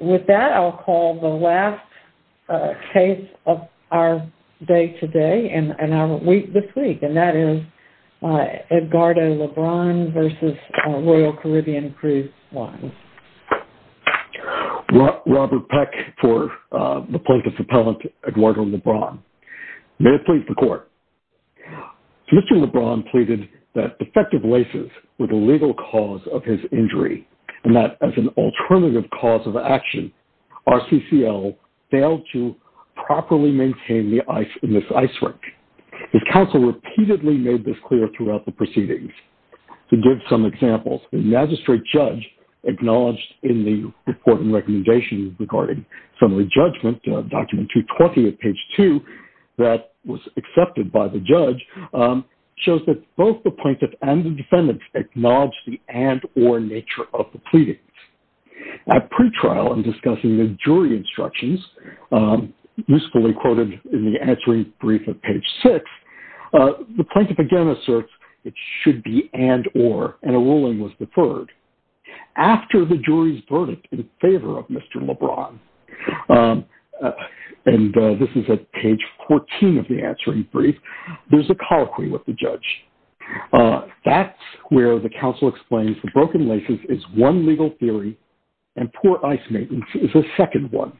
With that, I'll call the last case of our day today and our week this week, and that is Edgardo Lebron v. Royal Caribbean Cruise Lines. Robert Peck for the plaintiff's appellant, Eduardo Lebron. May it please the Court. So Mr. Lebron pleaded that defective laces were the legal cause of his injury, and that as an alternative cause of action, RCCL failed to properly maintain the ice in this ice rink. His counsel repeatedly made this clear throughout the proceedings. To give some examples, the magistrate judge acknowledged in the reporting recommendation regarding summary judgment, document 220 at page 2 that was accepted by the judge, shows that both the plaintiff and the defendant acknowledged the and or nature of the pleadings. At pretrial in discussing the jury instructions, usefully quoted in the answering brief at page 6, the plaintiff again asserts it should be and or, and a ruling was deferred. After the jury's verdict in favor of Mr. Lebron, and this is at page 14 of the answering brief, there's a colloquy with the judge. That's where the counsel explains the broken laces is one legal theory, and poor ice maintenance is a second one.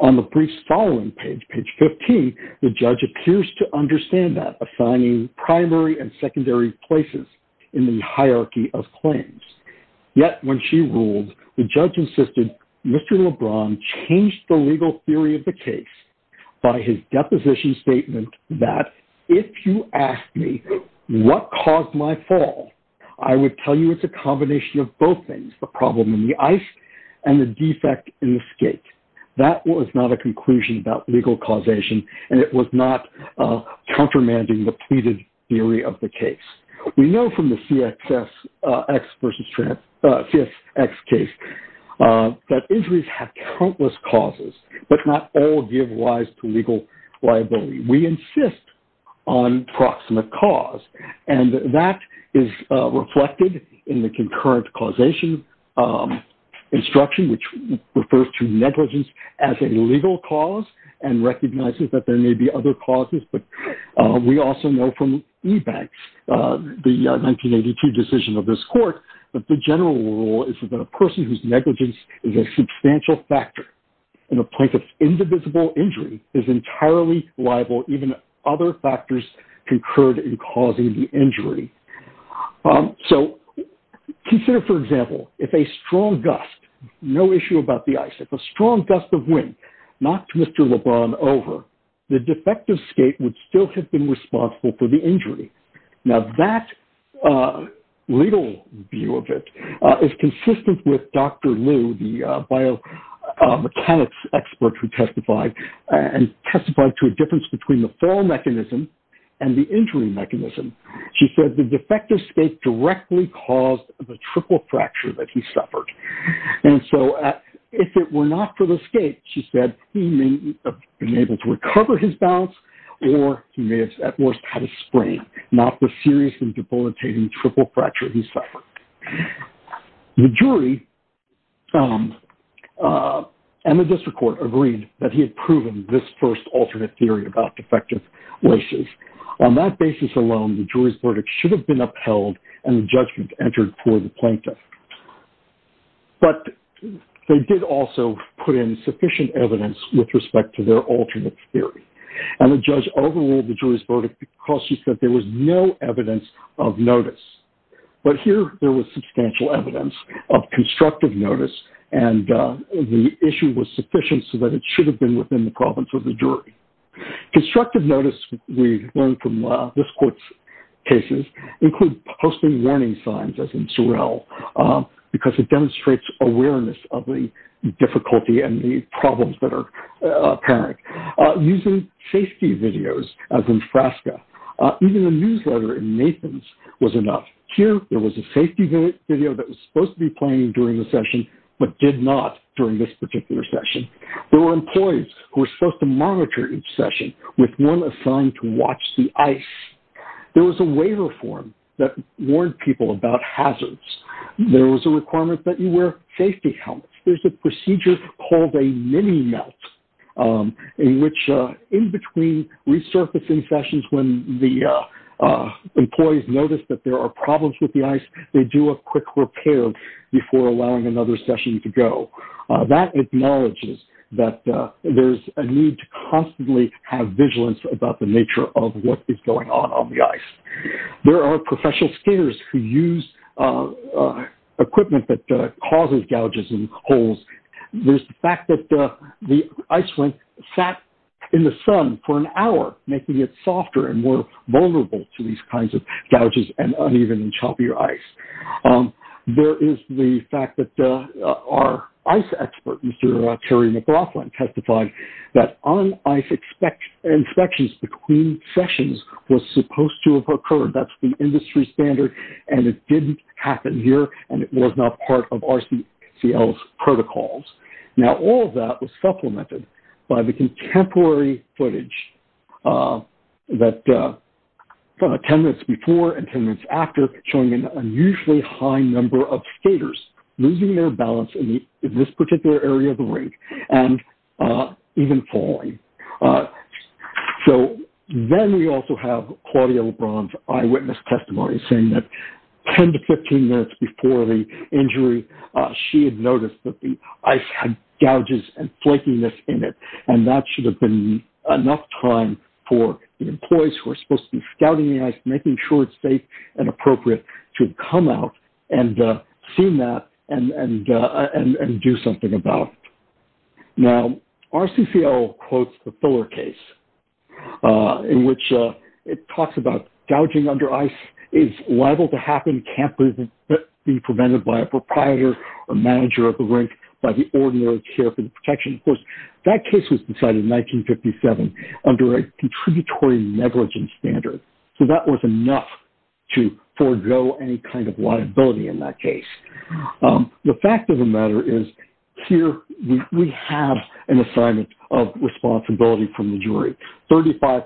On the brief's following page, page 15, the judge appears to understand that, assigning primary and secondary places in the hierarchy of claims. Yet when she ruled, the judge insisted Mr. Lebron changed the legal theory of the case by his deposition statement that, if you ask me what caused my fall, I would tell you it's a combination of both things, the problem in the ice and the defect in the skate. That was not a conclusion about legal causation, and it was not countermanding the pleaded theory of the case. We know from the CXS, X versus trans, CSX case that injuries have countless causes, but not all give rise to legal liability. We insist on proximate cause, and that is reflected in the concurrent causation instruction, which refers to negligence as a legal cause and recognizes that there may be other causes. But we also know from eBanks, the 1982 decision of this court, that the general rule is that a person whose negligence is a substantial factor in a plaintiff's indivisible injury is entirely liable even if other factors concurred in causing the injury. So consider, for example, if a strong gust, no issue about the ice, if a strong gust of wind knocked Mr. Lebron over, the defective skate would still have been responsible for the injury. Now that legal view of it is consistent with Dr. Liu, the biomechanics expert who testified, and testified to a difference between the fall mechanism and the injury mechanism. She said the defective skate directly caused the triple fracture that he suffered. And so if it were not for the skate, she said, he may have been able to at worst had a sprain, not the serious and debilitating triple fracture he suffered. The jury and the district court agreed that he had proven this first alternate theory about defective races. On that basis alone, the jury's verdict should have been upheld and the judgment entered for the plaintiff. But they did also put in sufficient evidence with respect to their overall, the jury's verdict, because she said there was no evidence of notice. But here there was substantial evidence of constructive notice and the issue was sufficient so that it should have been within the province of the jury. Constructive notice we learned from this court's cases include posting warning signs as in Sorrell, because it demonstrates awareness of the problems that are apparent. Using safety videos as in Frasca. Even a newsletter in Nathan's was enough. Here there was a safety video that was supposed to be playing during the session, but did not during this particular session. There were employees who were supposed to monitor each session with one assigned to watch the ice. There was a waiver form that warned people about hazards. There was a requirement that you wear safety helmets. There's a procedure called a mini melt in which in between resurfacing sessions, when the employees notice that there are problems with the ice, they do a quick repair before allowing another session to go. That acknowledges that there's a need to constantly have vigilance about the nature of what is going on on the ice. There are professional skaters who use equipment that causes gouges and holes. There's the fact that the ice went sat in the sun for an hour, making it softer and more vulnerable to these kinds of gouges and uneven and choppier ice. There is the fact that our ice expert, Mr. Terry testified that on ice inspections between sessions was supposed to have occurred. That's the industry standard and it didn't happen here and it was not part of RCCL's protocols. All of that was supplemented by the contemporary footage that 10 minutes before and 10 minutes after showing an unusually high number of skaters losing their balance in this particular area of and even falling. Then we also have Claudia LeBron's eyewitness testimony saying that 10 to 15 minutes before the injury, she had noticed that the ice had gouges and flakiness in it. That should have been enough time for the employees who are supposed to be scouting the ice, making sure it's safe and appropriate to come out and see that and do something about it. Now, RCCL quotes the Fuller case in which it talks about gouging under ice is liable to happen, can't be prevented by a proprietor or manager of the rink by the ordinary care for the protection. Of course, that case was decided in 1957 under a contributory negligence standard. So that was an assignment of responsibility from the jury. 35%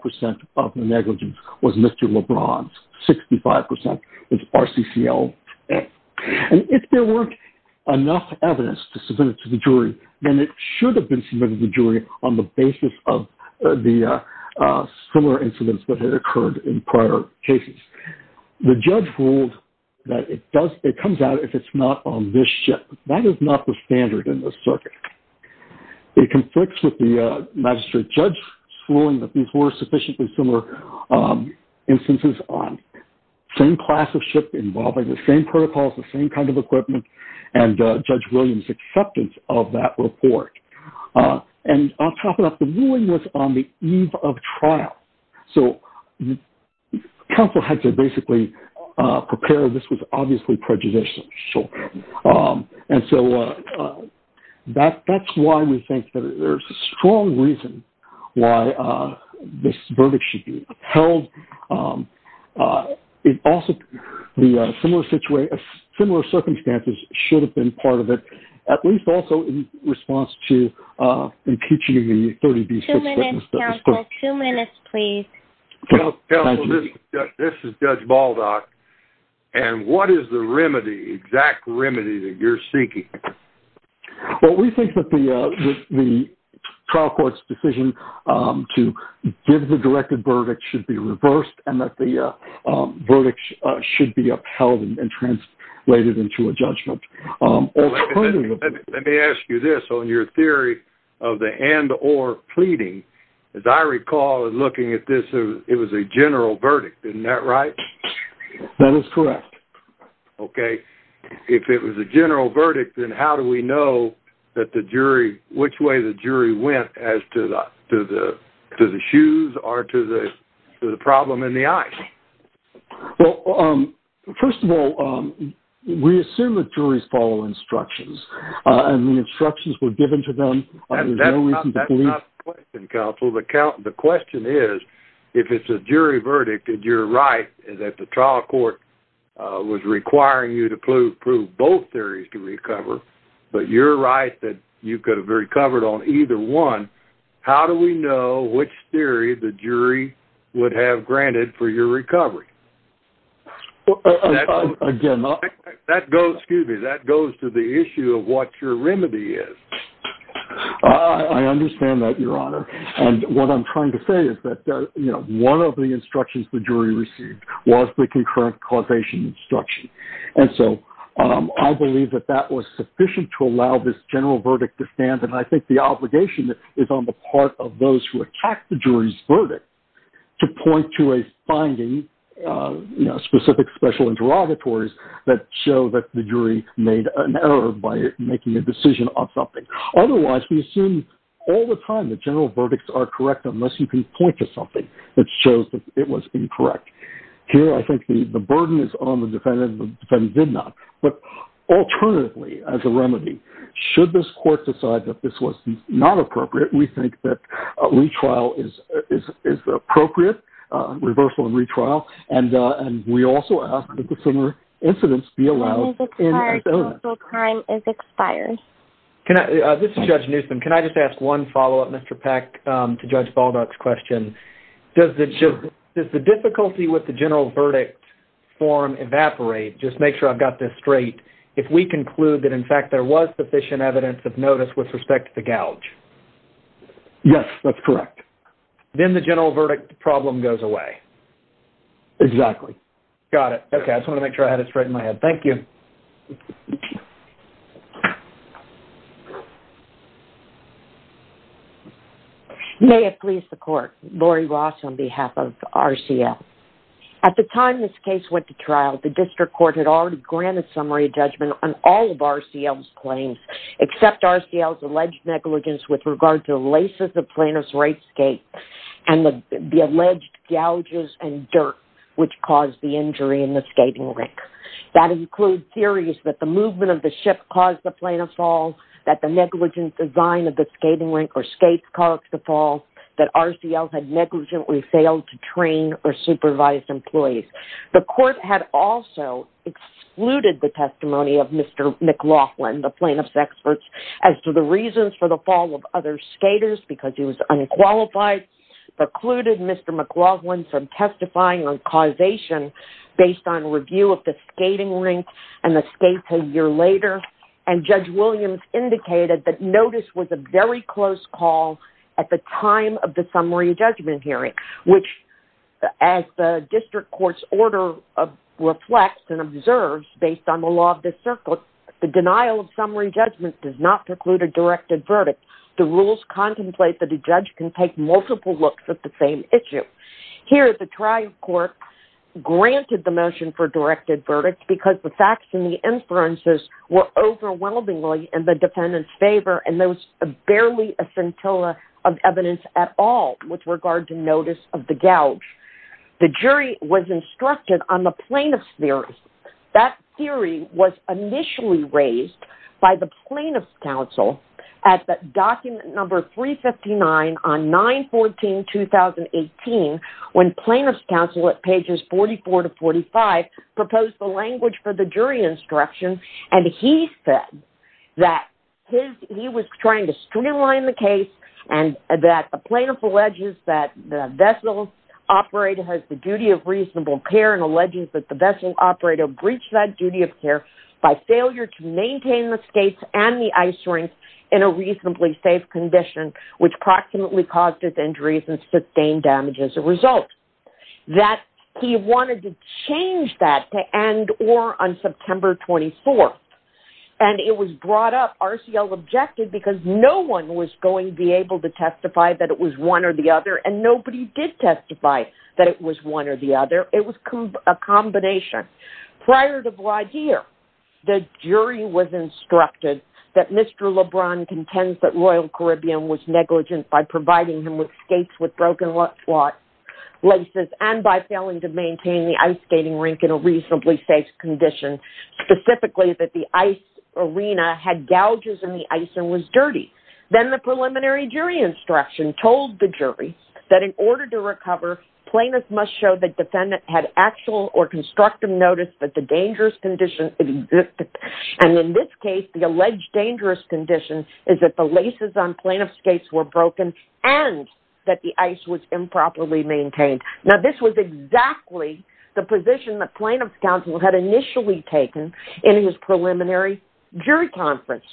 of the negligence was Mr. LeBron's, 65% was RCCL's. And if there weren't enough evidence to submit it to the jury, then it should have been submitted to the jury on the basis of the similar incidents that had occurred in prior cases. The judge ruled that it comes out if it's not on this ship. That is not the case. It conflicts with the magistrate judge's ruling that these were sufficiently similar instances on same class of ship involving the same protocols, the same kind of equipment, and Judge Williams' acceptance of that report. And on top of that, the ruling was on the eve of trial. So counsel had to basically prepare. This was obviously prejudicial. Um, and so, uh, that, that's why we think that there's a strong reason why, uh, this verdict should be held. Um, uh, it also, the, uh, similar situation, similar circumstances should have been part of it, at least also in response to, uh, impeaching the 30B. Two minutes, counsel. Two minutes. Okay. Well, we think that the, uh, the trial court's decision, um, to give the directed verdict should be reversed and that the, uh, um, verdict should be upheld and translated into a judgment. Let me ask you this on your theory of the and or pleading. As I recall, looking at this, it was a general verdict. Isn't that right? That is correct. Okay. If it was a general verdict, then how do we know that the jury, which way the jury went as to the, to the, to the shoes or to the, to the problem in the eyes? Well, um, first of all, um, we assume that juries follow instructions, uh, and the instructions were given to them. There's no reason to believe. That's not the question, counsel. The count, if it's a jury verdict that you're right, is that the trial court, uh, was requiring you to prove, prove both theories to recover, but you're right that you could have recovered on either one. How do we know which theory the jury would have granted for your recovery? Again, that goes, excuse me. That goes to the issue of what your remedy is. I understand that your honor. And what I'm trying to say is that, uh, you know, one of the instructions the jury received was the concurrent causation instruction. And so, um, I believe that that was sufficient to allow this general verdict to stand. And I think the obligation is on the part of those who attacked the jury's verdict to point to a finding, uh, you know, specific special interrogatories that show that the jury made an error by making a decision on something. Otherwise we assume all the time that general verdicts are correct, unless you can point to something that shows that it was incorrect here. I think the burden is on the defendant and the defendant did not, but alternatively, as a remedy, should this court decide that this was not appropriate, we think that a retrial is, is, is appropriate, uh, reversal and retrial. And, uh, and we also ask that the similar incidents be allowed in. Crime is expired. Can I, uh, this is judge Newsom. Can I just ask one follow-up Mr. Peck, um, to judge Baldock's question? Does the, does the difficulty with the general verdict form evaporate? Just make sure I've got this straight. If we conclude that in fact, there was sufficient evidence of notice with respect to the gouge. Yes, that's correct. Then the general verdict problem goes away. Exactly. Got it. Okay. I just want to make sure I had it straight in my head. Thank you. May it please the court. Laurie Ross on behalf of RCL. At the time this case went to trial, the district court had already granted summary judgment on all of RCL's claims, except RCL's alleged negligence with regard to the laces of plaintiff's right skate and the alleged gouges and dirt, which caused the injury in the skating rink. That includes theories that the movement of the ship caused the plaintiff's fall that the negligence design of the skating rink or skates caused the fall that RCL had negligently failed to train or supervise employees. The court had also excluded the testimony of Mr. McLaughlin, the plaintiff's experts as to the reasons for the skaters because he was unqualified, precluded Mr. McLaughlin from testifying on causation based on review of the skating rink and the skates a year later. And Judge Williams indicated that notice was a very close call at the time of the summary judgment hearing, which as the district court's order reflects and observes based on the law of the circle, the denial of summary judgment does not preclude a directed verdict. The rules contemplate that a judge can take multiple looks at the same issue. Here, the trial court granted the motion for directed verdict because the facts and the inferences were overwhelmingly in the defendant's favor. And there was barely a scintilla of evidence at all with regard to notice of the gouge. The jury was instructed on the plaintiff's theory. That theory was initially raised by the plaintiff's counsel at the document number 359 on 9-14-2018 when plaintiff's counsel at pages 44 to 45 proposed the language for the jury instruction. And he said that he was trying to the duty of reasonable care and alleges that the vessel operator breached that duty of care by failure to maintain the skates and the ice rink in a reasonably safe condition, which proximately caused his injuries and sustained damage as a result. That he wanted to change that to end or on September 24th. And it was brought up RCL objective because no one was going to be able to testify that it was one or the other and nobody did testify that it was one or the other. It was a combination. Prior to Blagir, the jury was instructed that Mr. LeBron contends that Royal Caribbean was negligent by providing him with skates with broken laces and by failing to maintain the ice skating rink in a reasonably safe condition, specifically that the ice arena had gouges in the ice and was dirty. Then the preliminary jury instruction told the jury that in order to recover, plaintiff must show that defendant had actual or constructive notice that the dangerous condition. And in this case, the alleged dangerous condition is that the laces on plaintiff's skates were broken and that the ice was improperly maintained. Now, this was exactly the position that plaintiff's counsel had initially taken in his preliminary jury conference.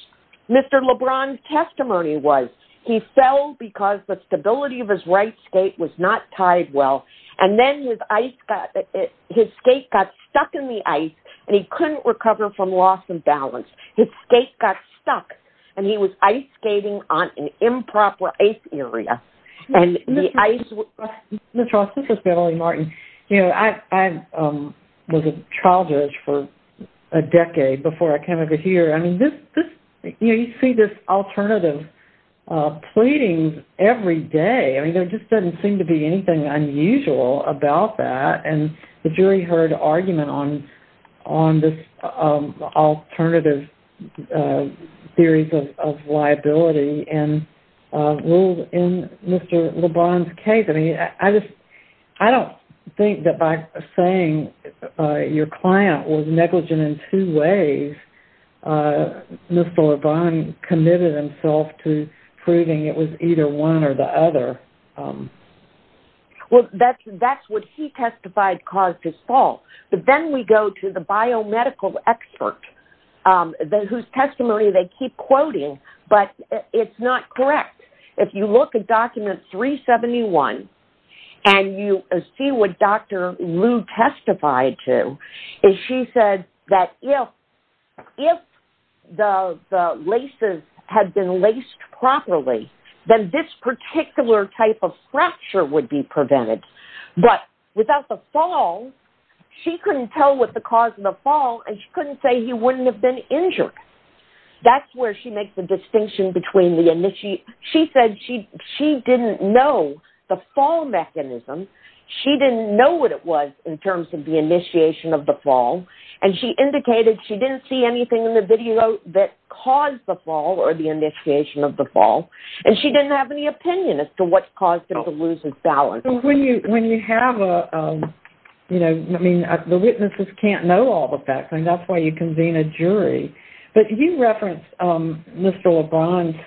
Mr. LeBron's testimony was he fell because the stability of his right skate was not tied well. And then his ice got, his skate got stuck in the ice and he couldn't recover from loss and balance. His skate got stuck and he was ice skating on an improper ice area. And the ice... Ms. Ross, this is Beverly Martin. I was a college judge for a decade before I came over here. I mean, you see this alternative pleading every day. I mean, there just doesn't seem to be anything unusual about that. And the jury heard argument on this alternative theories of liability and ruled in Mr. LeBron's testimony. I don't think that by saying your client was negligent in two ways, Mr. LeBron committed himself to proving it was either one or the other. Well, that's what he testified caused his fall. But then we go to the biomedical expert whose testimony they keep quoting, but it's not correct. If you look at document 371, and you see what Dr. Liu testified to, is she said that if the laces had been laced properly, then this particular type of fracture would be prevented. But without the fall, she couldn't tell what the cause of the fall and she couldn't say he wouldn't have been injured. That's where she makes the distinction between the initiate. She said she didn't know the fall mechanism. She didn't know what it was in terms of the initiation of the fall. And she indicated she didn't see anything in the video that caused the fall or the initiation of the fall. And she didn't have any opinion as to what caused him to lose his balance. When you have a, you know, I mean, the witnesses can't know all the facts and that's why you convene a jury. But he referenced Mr. LeBron's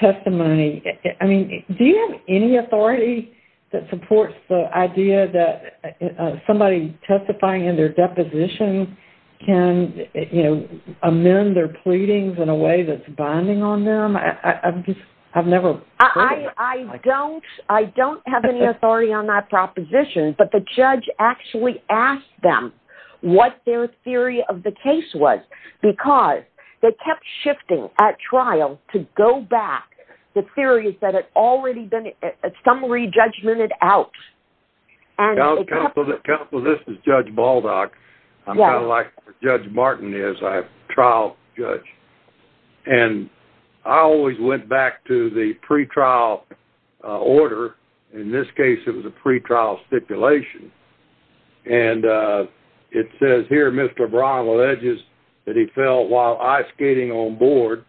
testimony. I mean, do you have any authority that supports the idea that somebody testifying in their deposition can, you know, amend their pleadings in a way that's binding on them? I've never... I don't have any authority on that proposition, but the judge actually asked them what their theory of the case was, because they kept shifting at trial to go back. The theory is that it's already been... some re-judgmented out. Counsel, this is Judge Baldock. I'm kind of like Judge Martin is. I'm a trial judge. And I always went back to the pretrial order. In this case, it was a pretrial stipulation. And it says here, Mr. LeBron alleges that he fell while ice skating on board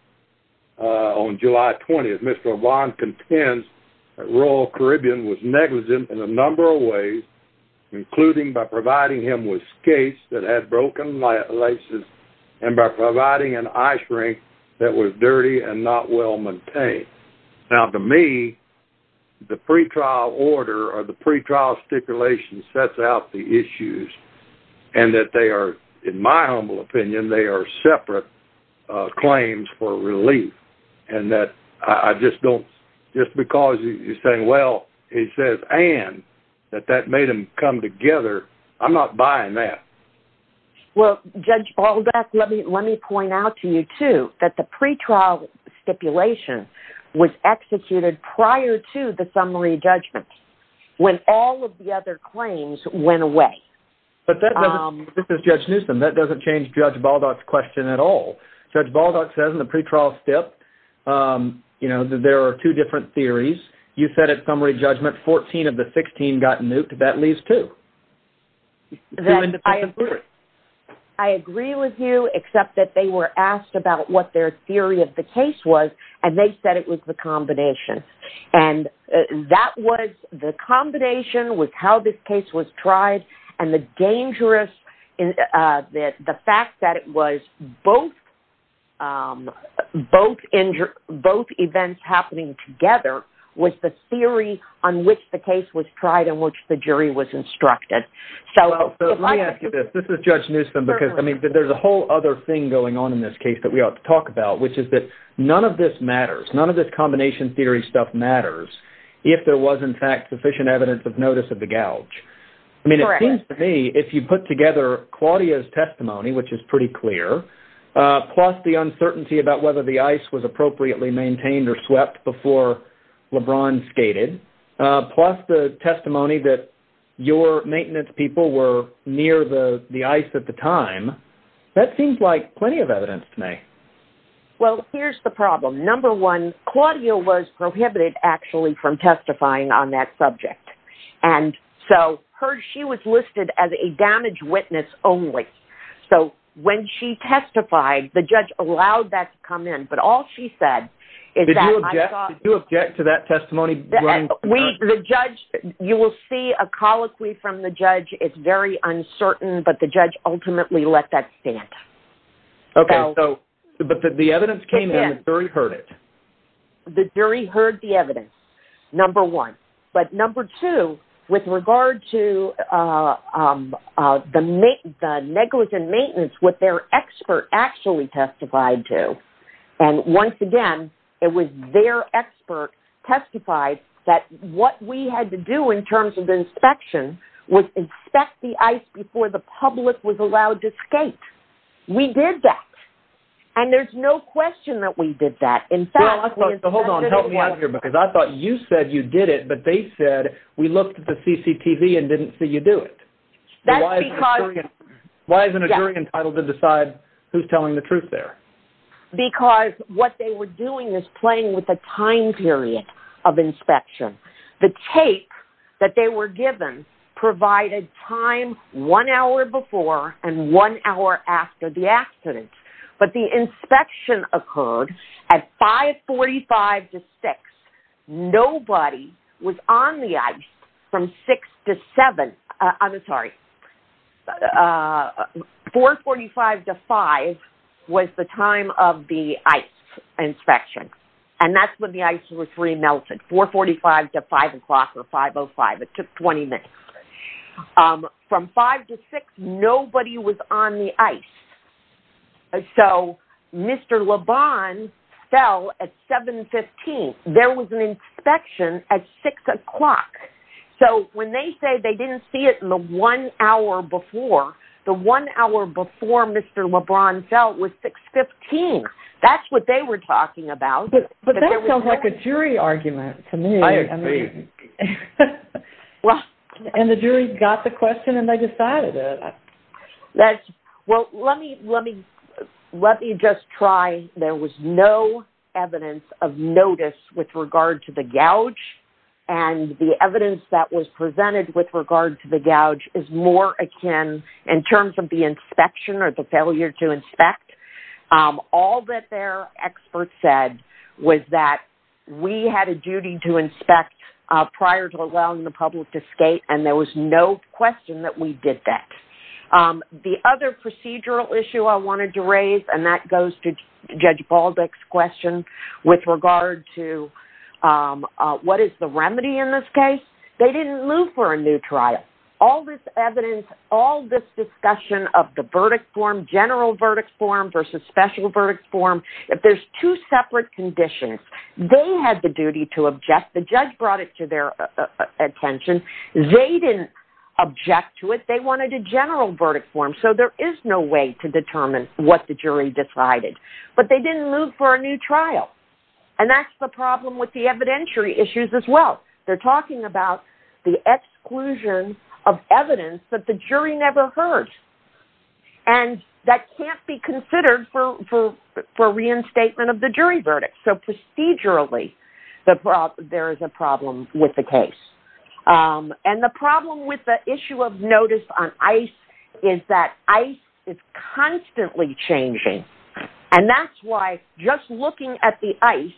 on July 20th. Mr. LeBron contends that Royal Caribbean was negligent in a number of ways, including by providing him with skates that had broken laces and by providing an ice rink that was dirty and not well-maintained. Now, to me, the pretrial order or the pretrial stipulation sets out the issues, and that they are, in my humble opinion, they are separate claims for relief. And that I just don't... just because you're saying, well, it says, and that that made them come together, I'm not buying that. Well, Judge Baldock, let me point out to you, too, that the pretrial stipulation was executed prior to the summary judgment. When all of the other went away. But that doesn't, this is Judge Newsom, that doesn't change Judge Baldock's question at all. Judge Baldock says in the pretrial stip, you know, that there are two different theories. You said at summary judgment, 14 of the 16 got nuked. That leaves two. I agree with you, except that they were asked about what their theory of the case was, and they said it was the combination. And that was the combination with how this case was tried, and the dangerous... the fact that it was both events happening together was the theory on which the case was tried and which the jury was instructed. So let me ask you this, this is Judge Newsom, because I mean, there's a whole other thing going on in this case that we ought to talk about, which is that none of this matters, none of this combination theory stuff matters, if there was, in fact, sufficient evidence of notice of the gouge. I mean, it seems to me, if you put together Claudia's testimony, which is pretty clear, plus the uncertainty about whether the ice was appropriately maintained or swept before LeBron skated, plus the testimony that your maintenance people were near the ice at the time, that seems like plenty of evidence to me. Well, here's the problem. Number one, Claudia was prohibited, actually, from testifying on that subject. And so she was listed as a damage witness only. So when she testified, the judge allowed that to come in. But all she said is that... Did you object to that testimony? We, the judge, you will see a colloquy from the judge, it's very uncertain, but the judge ultimately let that stand. Okay, so, but the evidence came in, the jury heard it. The jury heard the evidence, number one. But number two, with regard to the negligent maintenance, what their expert actually testified to. And once again, it was their expert testified that what we had to do in terms of the inspection was inspect the ice before the public was allowed to skate. We did that. And there's no question that we did that. In fact... Hold on, help me out here, because I thought you said you did it, but they said, we looked at the CCTV and didn't see you do it. Why isn't a jury entitled to decide who's telling the truth there? Because what they were doing is playing with the time period of inspection. The tape that they were given provided time one hour before and one hour after the accident. But the inspection occurred at 5.45 to 6. Nobody was on the ice from 6 to 7. I'm sorry. 4.45 to 5 was the time of the ice inspection. And that's when the ice was remelted, 4.45 to 5 o'clock or 5.05. It took 20 minutes. From 5 to 6, nobody was on the ice. And so Mr. LeBron fell at 7.15. There was an inspection at 6 o'clock. So when they say they didn't see it in the one hour before, the one hour before Mr. LeBron fell was 6.15. That's what they were talking about. But that sounds like a jury argument to me. I agree. And the jury got the question and they decided it. That's well, let me just try. There was no evidence of notice with regard to the gouge. And the evidence that was presented with regard to the gouge is more akin in terms of the inspection or the failure to inspect. All that their experts said was that we had a duty to inspect prior to allowing the public to skate. And there was no question that we did that. The other procedural issue I wanted to raise, and that goes to Judge Baldick's question with regard to what is the remedy in this case? They didn't move for a new trial. All this evidence, all this discussion of the verdict form, general verdict form versus special verdict form. If there's two separate conditions, they had the duty to object. The judge brought it their attention. They didn't object to it. They wanted a general verdict form. So there is no way to determine what the jury decided. But they didn't move for a new trial. And that's the problem with the evidentiary issues as well. They're talking about the exclusion of evidence that the jury never heard. And that can't be considered for reinstatement of the jury verdict. So procedurally, there is a problem with the case. And the problem with the issue of notice on ice is that ice is constantly changing. And that's why just looking at the ice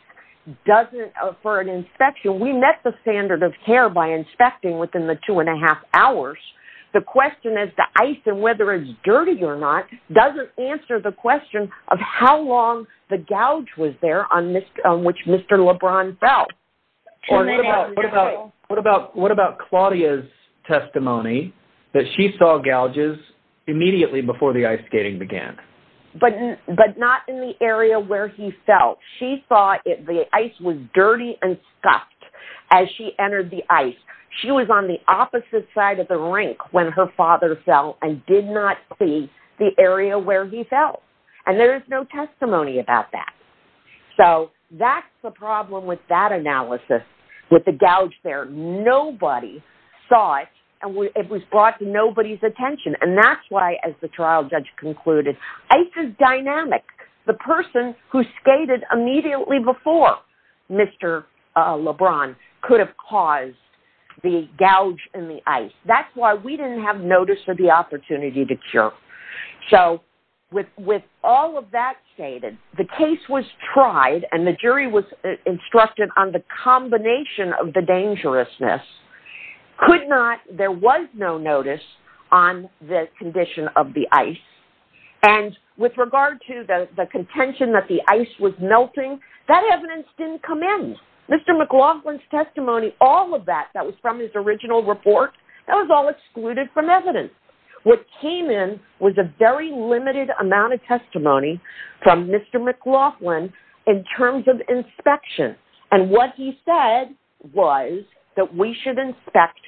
doesn't for an inspection, we met the standard of care by inspecting within the two and a half hours. The question is the ice and whether it's dirty or not doesn't answer the question of how long the gouge was there on which Mr. LeBron fell. What about Claudia's testimony that she saw gouges immediately before the ice skating began? But not in the area where he fell. She thought the ice was dirty and scuffed as she entered the ice. She was on the opposite side of the rink when her father fell and did not see the area where he fell. And there is no testimony about that. So that's the problem with that analysis, with the gouge there. Nobody saw it and it was brought to nobody's attention. And that's why, as the trial judge concluded, ice is dynamic. The person who skated immediately before Mr. LeBron could have caused the gouge in the ice. That's why we didn't have notice of the opportunity to cure. So with all of that stated, the case was tried and the jury was instructed on the combination of the dangerousness. Could not, there was no notice on the condition of the ice. And with regard to the contention that the ice was melting, that evidence didn't come in. Mr. McLaughlin's testimony, all of that, that was from his original report, that was all excluded from evidence. What came in was a very limited amount of testimony from Mr. McLaughlin in terms of inspection. And what he said was that we should inspect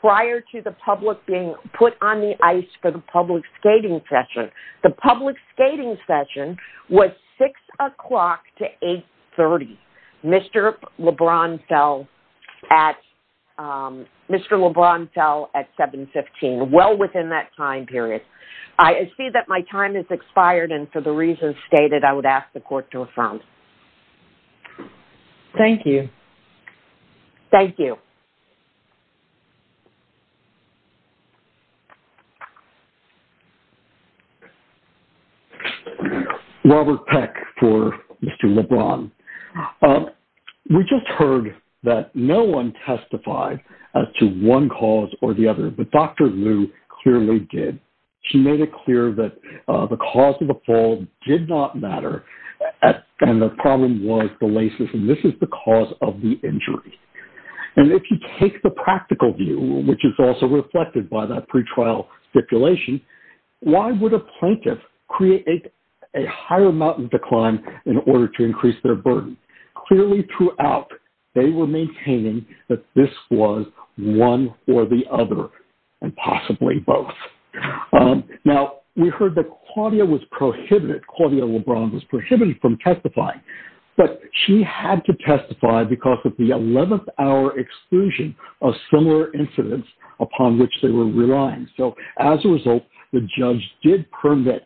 prior to the public being put on the ice for the public skating session. The public skating session was six o'clock to 830. Mr. LeBron fell at 715, well within that time period. I see that my time has expired and for the reasons stated, I would ask the court to affirm. Thank you. Thank you. Robert Peck for Mr. LeBron. We just heard that no one testified as to one cause or the other, but Dr. Liu clearly did. She made it clear that the cause of the fall did not matter and the problem was the laces. And this is the cause of the injury. And if you take the practical view, which is also reflected by that pretrial stipulation, why would a plaintiff create a higher amount of decline in order to increase their burden? Clearly throughout, they were maintaining that this was one or the other and possibly both. Now we heard that Claudia LeBron was prohibited from testifying, but she had to testify because of the 11th hour exclusion of similar incidents upon which they were relying. So as a result, the judge did permit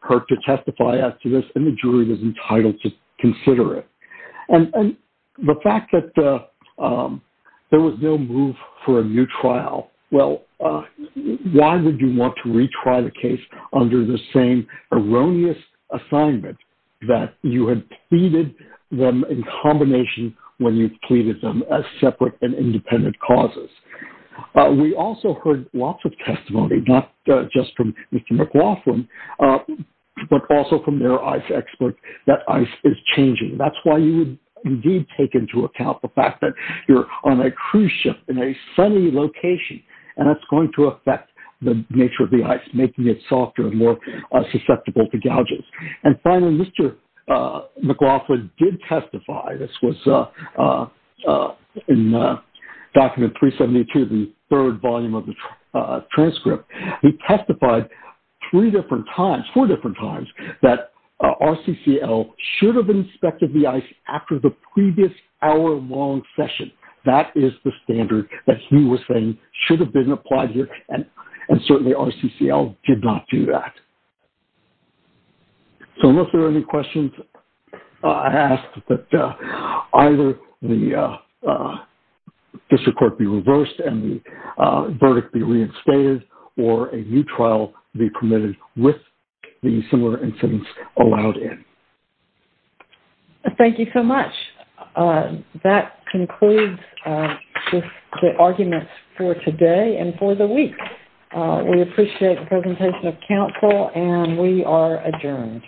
her to testify as to this and the jury was entitled to consider it. And the fact that there was no move for a new trial, well, why would you want to retry the case under the same erroneous assignment that you had pleaded them in combination when you pleaded them as separate and independent causes? We also heard lots of testimony, not just from Mr. McLaughlin, but also from their ice expert that ice is changing. That's why you would indeed take into account the fact that you're on a cruise ship in a sunny location and that's going to affect the nature of the ice, making it softer and more susceptible to gouges. And finally, Mr. McLaughlin did testify. This was in Document 372, the third volume of the four different times that RCCL should have inspected the ice after the previous hour-long session. That is the standard that he was saying should have been applied here and certainly RCCL did not do that. So unless there are any questions, I ask that either the similar incidents allowed in. Thank you so much. That concludes the arguments for today and for the week. We appreciate the presentation of counsel and we are adjourned.